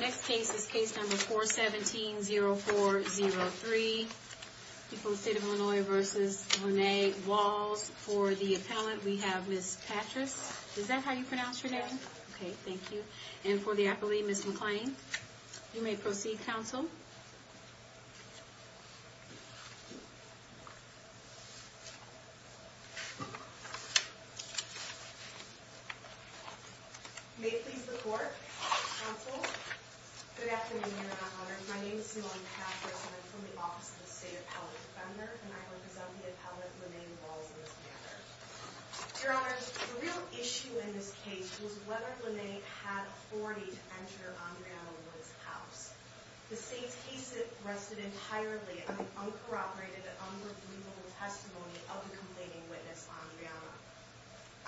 Next case is case number 417-0403, State of Illinois v. Rene Walls. For the appellant, we have Ms. Patrice. Is that how you pronounce your name? Yes. Okay, thank you. And for the appellee, Ms. McClain. You may proceed, counsel. May it please the court, counsel. Good afternoon, Your Honor. My name is Simone Patrice, and I'm from the Office of the State Appellate Defender, and I represent the appellant, Rene Walls, in this matter. Your Honor, the real issue in this case was whether Rene had authority to enter Andriana Wood's house. The state's case rested entirely on the uncorroborated and unbelievable testimony of the complaining witness, Andriana.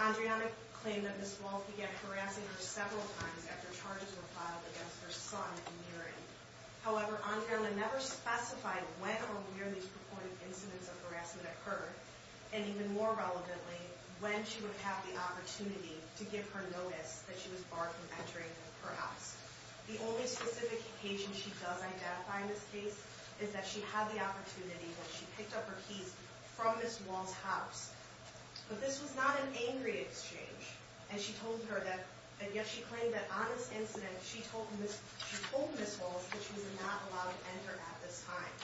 Andriana claimed that Ms. Walls began harassing her several times after charges were filed against her son and Niren. However, Andriana never specified when or where these purported incidents of harassment occurred, and even more relevantly, when she would have the opportunity to give her notice that she was barred from entering her house. The only specific occasion she does identify in this case is that she had the opportunity, that she picked up her keys from Ms. Walls' house. But this was not an angry exchange, and yet she claimed that on this incident, she told Ms. Walls that she was not allowed to enter at this time.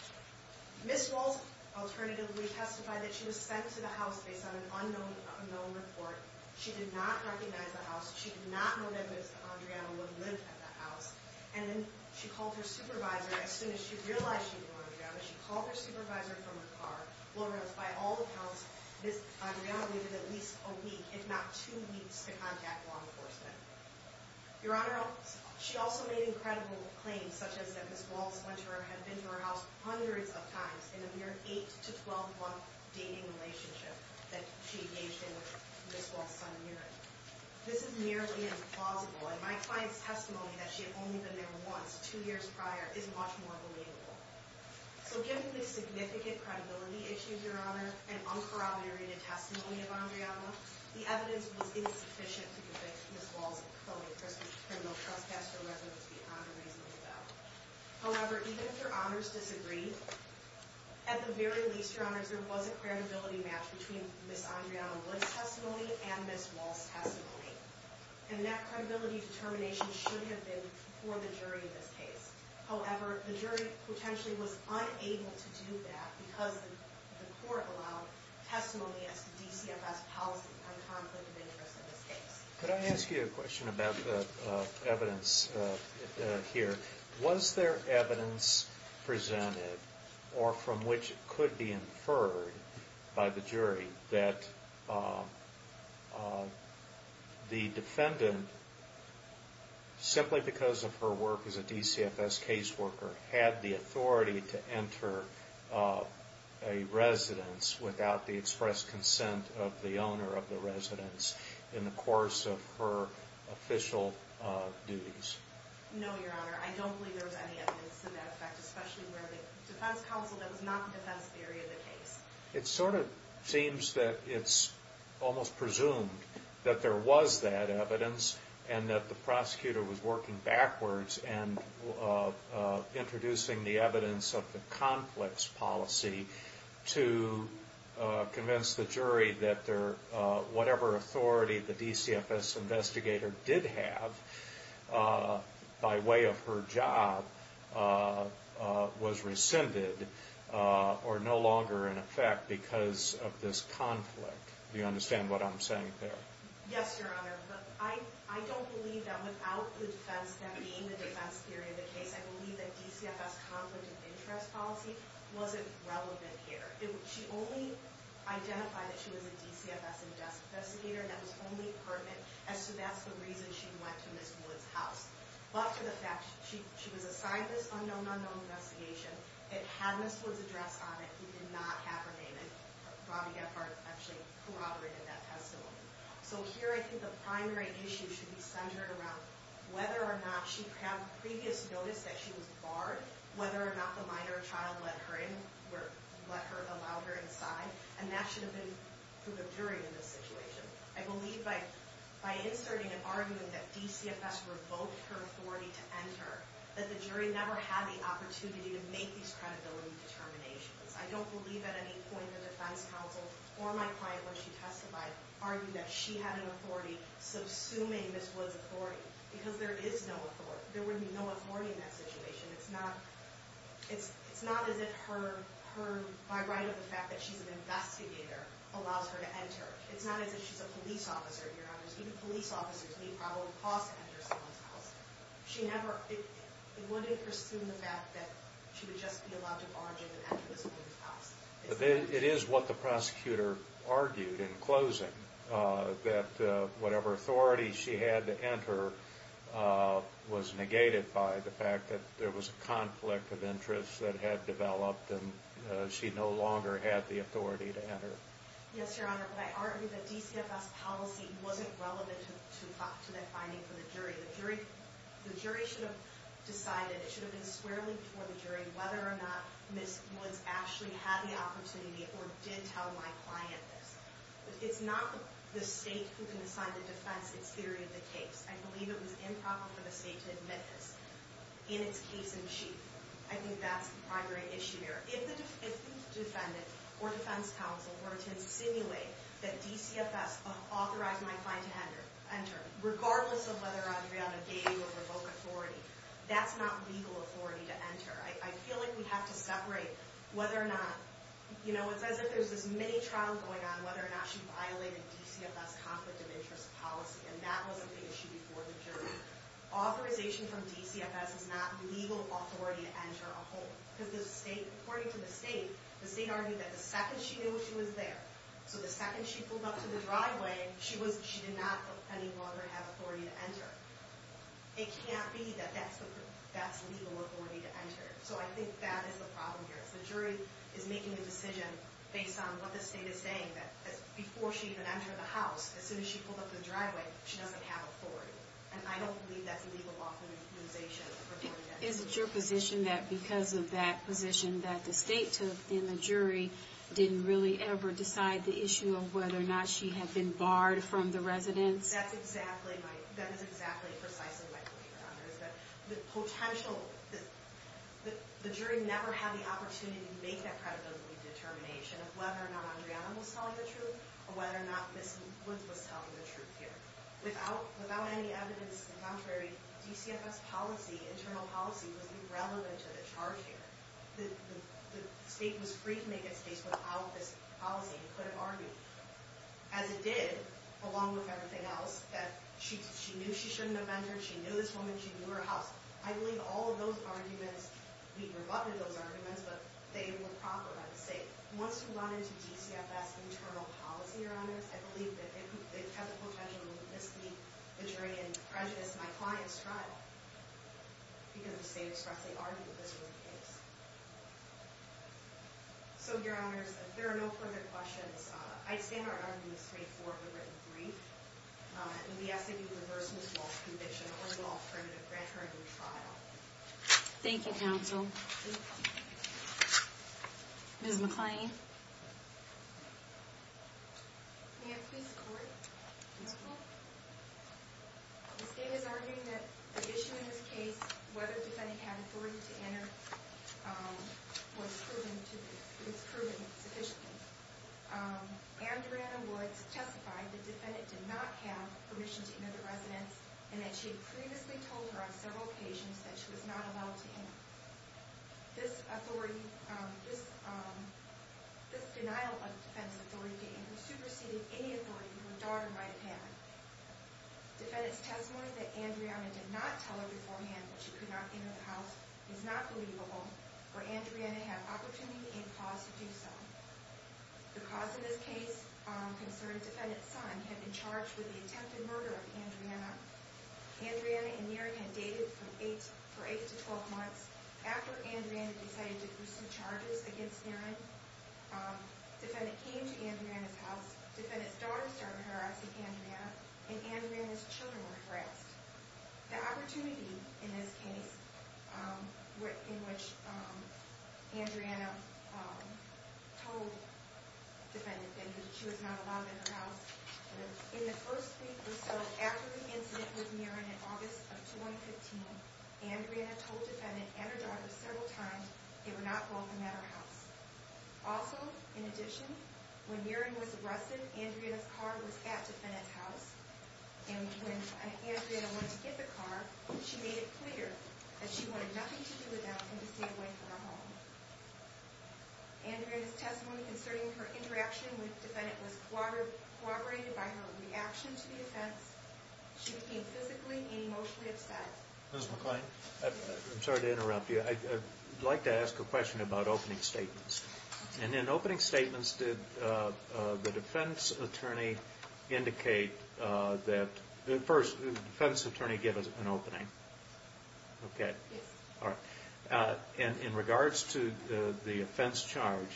Ms. Walls alternatively testified that she was sent to the house based on an unknown report. She did not recognize the house. She did not know that Ms. Andriana Wood lived at the house. And then she called her supervisor as soon as she realized she knew Andriana. She called her supervisor from her car. Your Honor, Ms. Andriana's lawyer has, by all accounts, Ms. Andriana waited at least a week, if not two weeks, to contact law enforcement. Your Honor, she also made incredible claims, such as that Ms. Walls went to her, had been to her house hundreds of times in a mere 8-to-12-month dating relationship that she engaged in with Ms. Walls' son, Niren. This is merely implausible, and my client's testimony that she had only been there once, two years prior, is much more believable. So given the significant credibility issues, Your Honor, and uncorroborated testimony of Andriana, the evidence was insufficient to convict Ms. Walls of felony criminal trespass, or whether it was beyond a reasonable doubt. However, even if Your Honors disagree, at the very least, Your Honors, there was a credibility match between Ms. Andriana Wood's testimony and Ms. Walls' testimony. And that credibility determination should have been for the jury in this case. However, the jury potentially was unable to do that because the court allowed testimony as to DCFS policy on conflict of interest in this case. Could I ask you a question about the evidence here? Was there evidence presented, or from which it could be inferred by the jury, that the defendant, simply because of her work as a DCFS caseworker, had the authority to enter a residence without the express consent of the owner of the residence, in the course of her official duties? No, Your Honor. I don't believe there was any evidence to that effect, especially where the defense counsel, that was not the defense theory of the case. It sort of seems that it's almost presumed that there was that evidence, and that the prosecutor was working backwards and introducing the evidence of the conflicts policy to convince the jury that whatever authority the DCFS investigator did have by way of her job was rescinded, or no longer in effect because of this conflict. Do you understand what I'm saying there? So here I think the primary issue should be centered around whether or not she had previous notice that she was barred, whether or not the minor or child allowed her inside, and that should have been for the jury in this situation. I believe by inserting and arguing that DCFS revoked her authority to enter, that the jury never had the opportunity to make these credibility determinations. I don't believe at any point the defense counsel or my client, when she testified, argued that she had an authority, subsuming Ms. Wood's authority, because there is no authority. There would be no authority in that situation. It's not as if her, by right of the fact that she's an investigator, allows her to enter. It's not as if she's a police officer, Your Honors. Even police officers may probably cause her to enter someone's house. She never, it wouldn't presume the fact that she would just be allowed to barge in and enter someone's house. It is what the prosecutor argued in closing, that whatever authority she had to enter was negated by the fact that there was a conflict of interest that had developed and she no longer had the authority to enter. Yes, Your Honor, but I argue that DCFS policy wasn't relevant to that finding for the jury. The jury should have decided, it should have been squarely before the jury, whether or not Ms. Woods actually had the opportunity or did tell my client this. It's not the state who can assign the defense its theory of the case. I believe it was improper for the state to admit this in its case in chief. I think that's the primary issue here. If the defendant or defense counsel were to insinuate that DCFS authorized my client to enter, regardless of whether Adriana gave or revoked authority, that's not legal authority to enter. I feel like we have to separate whether or not, you know, it's as if there's this mini-trial going on whether or not she violated DCFS conflict of interest policy, and that wasn't the issue before the jury. Authorization from DCFS is not legal authority to enter a home. According to the state, the state argued that the second she knew she was there, so the second she pulled up to the driveway, she did not any longer have authority to enter. It can't be that that's legal authority to enter. So I think that is the problem here. The jury is making a decision based on what the state is saying, that before she even entered the house, as soon as she pulled up to the driveway, she doesn't have authority. And I don't believe that's legal authorization. Is it your position that because of that position that the state took, then the jury didn't really ever decide the issue of whether or not she had been barred from the residence? That's exactly, that is exactly precisely my point, Your Honor, is that the potential, the jury never had the opportunity to make that predatory determination of whether or not Andreana was telling the truth, or whether or not Ms. Woods was telling the truth here. Without any evidence, in contrary, DCFS policy, internal policy, was irrelevant to the charge here. The state was free to make its case without this policy. It couldn't argue. As it did, along with everything else, that she knew she shouldn't have entered, she knew this woman, she knew her house. I believe all of those arguments, we've rebutted those arguments, but they were proper by the state. So, Your Honors, if there are no further questions, I stand on arguing this case for the written brief. And we ask that you reverse Ms. Walsh's conviction and hold off her in a grand jury trial. Thank you, counsel. Ms. McClain. May I please score it? Yes, ma'am. The state is arguing that the issue in this case, whether the defendant had authority to enter, was proven sufficiently. Andreana Woods testified that the defendant did not have permission to enter the residence, and that she had previously told her on several occasions that she was not allowed to enter. This denial of defense authority came from superseding any authority from a daughter by a parent. Defendant's testimony that Andreana did not tell her beforehand that she could not enter the house is not believable, or Andreana had opportunity and cause to do so. The cause of this case concerned defendant's son had been charged with the attempted murder of Andreana. Andreana and Aaron had dated for 8 to 12 months. After Andreana decided to pursue charges against Aaron, defendant came to Andreana's house, defendant's daughter started harassing Andreana, and Andreana's children were harassed. The opportunity in this case, in which Andreana told defendant that she was not allowed in her house, in the first week or so after the incident with Aaron in August of 2015, Andreana told defendant and her daughter several times they were not welcome at her house. Also, in addition, when Aaron was arrested, Andreana's car was at defendant's house, and when Andreana went to get the car, she made it clear that she wanted nothing to do with them and to stay away from her home. Andreana's testimony concerning her interaction with defendant was corroborated by her reaction to the offense. She became physically and emotionally upset. Ms. McClain? I'm sorry to interrupt you. I'd like to ask a question about opening statements. And in opening statements, did the defense attorney indicate that... First, did the defense attorney give an opening? Okay. Yes. All right. In regards to the offense charge,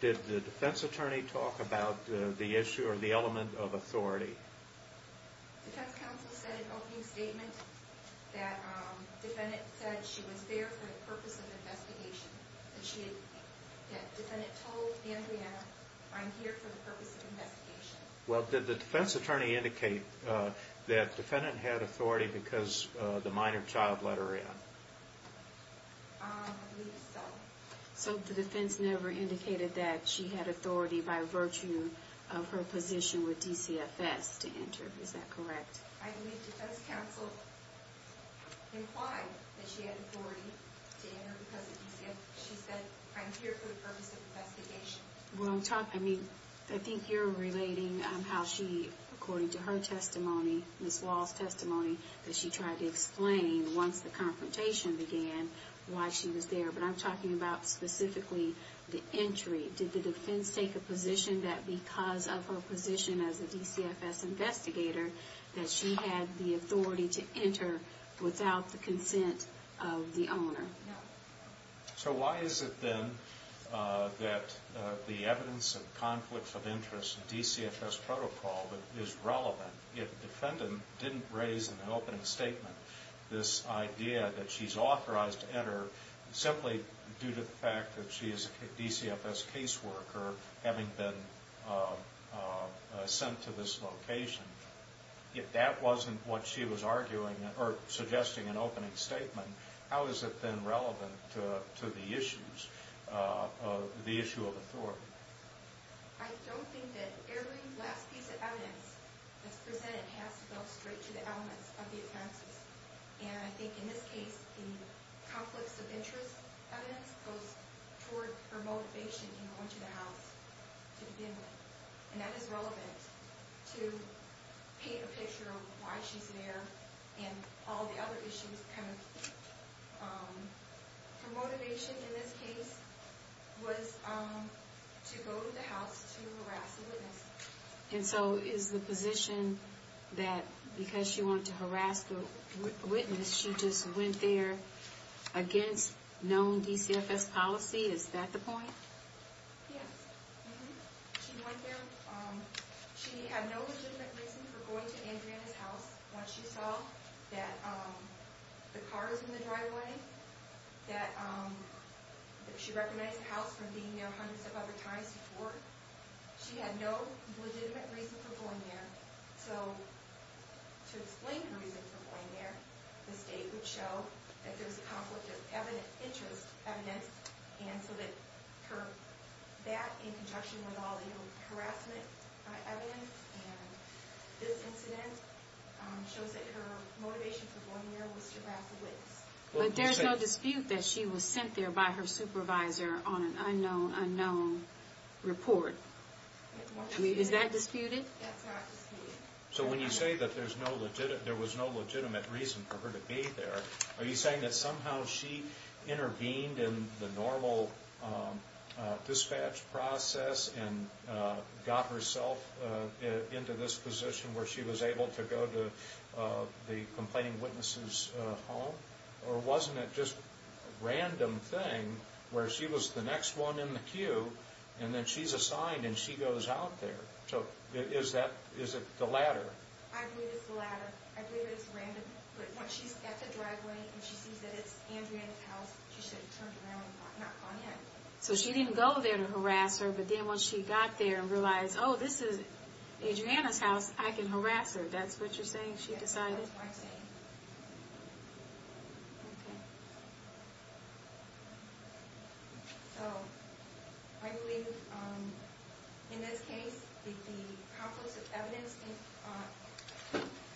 did the defense attorney talk about the issue or the element of authority? The defense counsel said in opening statement that defendant said she was there for the purpose of investigation. That defendant told Andreana, I'm here for the purpose of investigation. Well, did the defense attorney indicate that defendant had authority because the minor child let her in? I believe so. So the defense never indicated that she had authority by virtue of her position with DCFS to enter. Is that correct? I believe defense counsel implied that she had authority to enter because she said, I'm here for the purpose of investigation. I think you're relating how she, according to her testimony, Ms. Wall's testimony, that she tried to explain once the confrontation began why she was there. But I'm talking about specifically the entry. Did the defense take a position that because of her position as a DCFS investigator that she had the authority to enter without the consent of the owner? So why is it then that the evidence of conflicts of interest DCFS protocol is relevant if defendant didn't raise in the opening statement this idea that she's authorized to enter simply due to the fact that she is a DCFS caseworker having been sent to this location? If that wasn't what she was arguing or suggesting in opening statement, how is it then relevant to the issues, the issue of authority? I don't think that every last piece of evidence that's presented has to go straight to the elements of the offenses. And I think in this case, the conflicts of interest evidence goes toward her motivation in going to the house to begin with. And that is relevant to paint a picture of why she's there and all the other issues. Her motivation in this case was to go to the house to harass the witness. And so is the position that because she wanted to harass the witness, she just went there against known DCFS policy? Is that the point? Yes. She went there. She had no legitimate reason for going to Andrea's house once she saw that the car was in the driveway, that she recognized the house from being there hundreds of other times before. She had no legitimate reason for going there. So to explain the reason for going there, the state would show that there's conflict of interest evidence and so that in conjunction with all the harassment evidence, this incident shows that her motivation for going there was to harass the witness. But there's no dispute that she was sent there by her supervisor on an unknown, unknown report. Is that disputed? That's not disputed. So when you say that there was no legitimate reason for her to be there, are you saying that somehow she intervened in the normal dispatch process and got herself into this position where she was able to go to the complaining witness's home? Or wasn't it just a random thing where she was the next one in the queue and then she's assigned and she goes out there? So is it the latter? I believe it's the latter. I believe it's random. But once she's at the driveway and she sees that it's Adriana's house, she should have turned around and not gone in. So she didn't go there to harass her, but then once she got there and realized, oh, this is Adriana's house, I can harass her. That's what you're saying she decided? Yes, that's what I'm saying. Okay. So I believe in this case the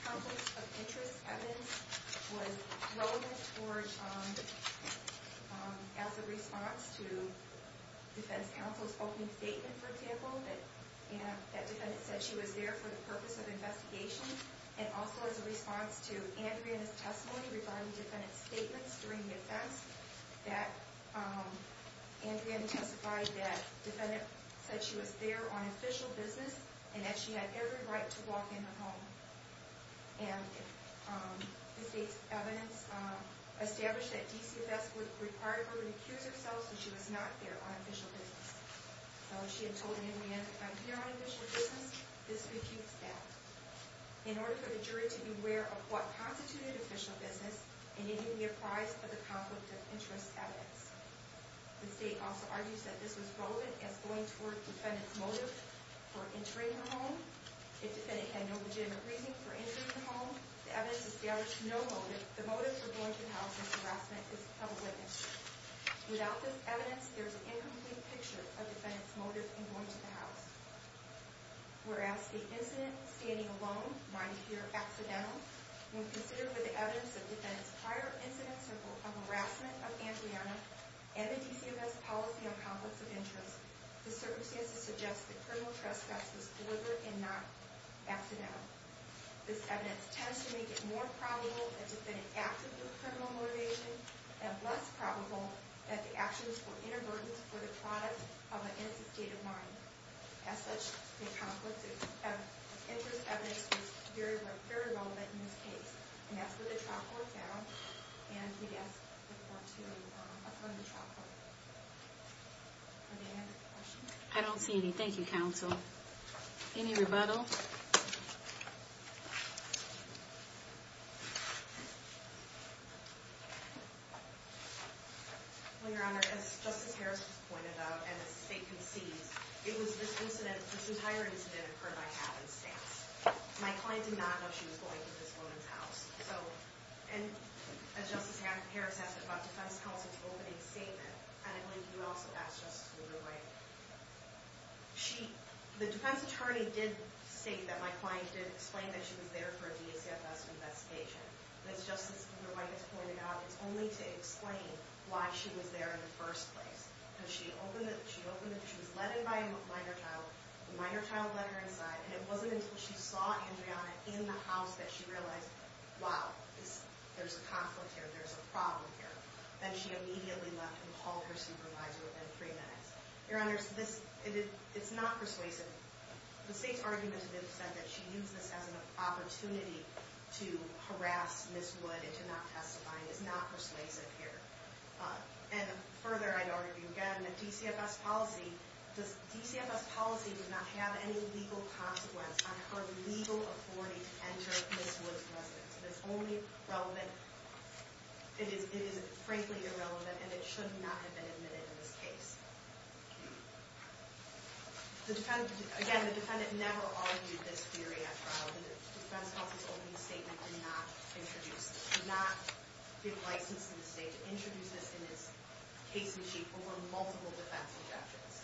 conflicts of interest evidence was relevant as a response to defense counsel's opening statement, for example, that the defendant said she was there for the purpose of investigation and also as a response to Adriana's testimony regarding the defendant's statements during the offense that Adriana testified that the defendant said she was there on official business and that she had every right to walk in her home. And the state's evidence established that DCFS would require her to accuse herself if she was not there on official business. So she had told Adriana, if I'm here on official business, this would keep us back. In order for the jury to be aware of what constituted official business, it needed to be apprised of the conflict of interest evidence. The state also argues that this was relevant as going toward the defendant's motive for entering her home. If the defendant had no legitimate reason for entering her home, the evidence established no motive for going to the house of harassment of a witness. Without this evidence, there is an incomplete picture of the defendant's motive in going to the house. Whereas the incident of standing alone might appear accidental, when considered with the evidence of the defendant's prior incidents of harassment of Adriana and the DCFS policy on conflicts of interest, the circumstances suggest that criminal trespass was deliberate and not accidental. This evidence tends to make it more probable that the defendant acted with criminal motivation and less probable that the actions were inadvertent for the product of an instinctive mind. As such, the conflict of interest evidence is very relevant in this case. And that's what the trial court found, and we ask the court to affirm the trial court. Are there any other questions? I don't see any. Thank you, counsel. Any rebuttal? Well, Your Honor, as Justice Harris has pointed out, and as the State concedes, it was this incident, this entire incident, occurred by happenstance. My client did not know she was going to this woman's house. So, and as Justice Harris asked about the defense counsel's opening statement, and I believe you also asked Justice Kugler-White. The defense attorney did state that my client did explain that she was there for a DCFS investigation. And as Justice Kugler-White has pointed out, it's only to explain why she was there in the first place. Because she opened it, she was led in by a minor child, the minor child led her inside, and it wasn't until she saw Andreana in the house that she realized, wow, there's a conflict here, there's a problem here. And she immediately left and called her supervisor within three minutes. Your Honor, it's not persuasive. The State's argument has been said that she used this as an opportunity to harass Ms. Wood into not testifying. It's not persuasive here. And further, I'd argue again that DCFS policy does not have any legal consequence on her legal authority to enter Ms. Wood's residence. It is only relevant, it is frankly irrelevant, and it should not have been admitted in this case. Again, the defendant never argued this theory at trial. The defense counsel's opening statement did not introduce this. It did not get licensed in the State to introduce this in its case in chief over multiple defense interventions.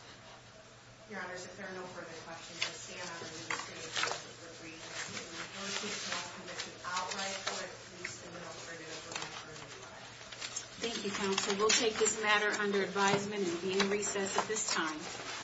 Your Honor, so if there are no further questions, I stand on a move that the State is willing to agree that the State will negotiate the law's conviction outright for at least a little further over one-third of the time. Thank you, counsel. We'll take this matter under advisement and be in recess at this time.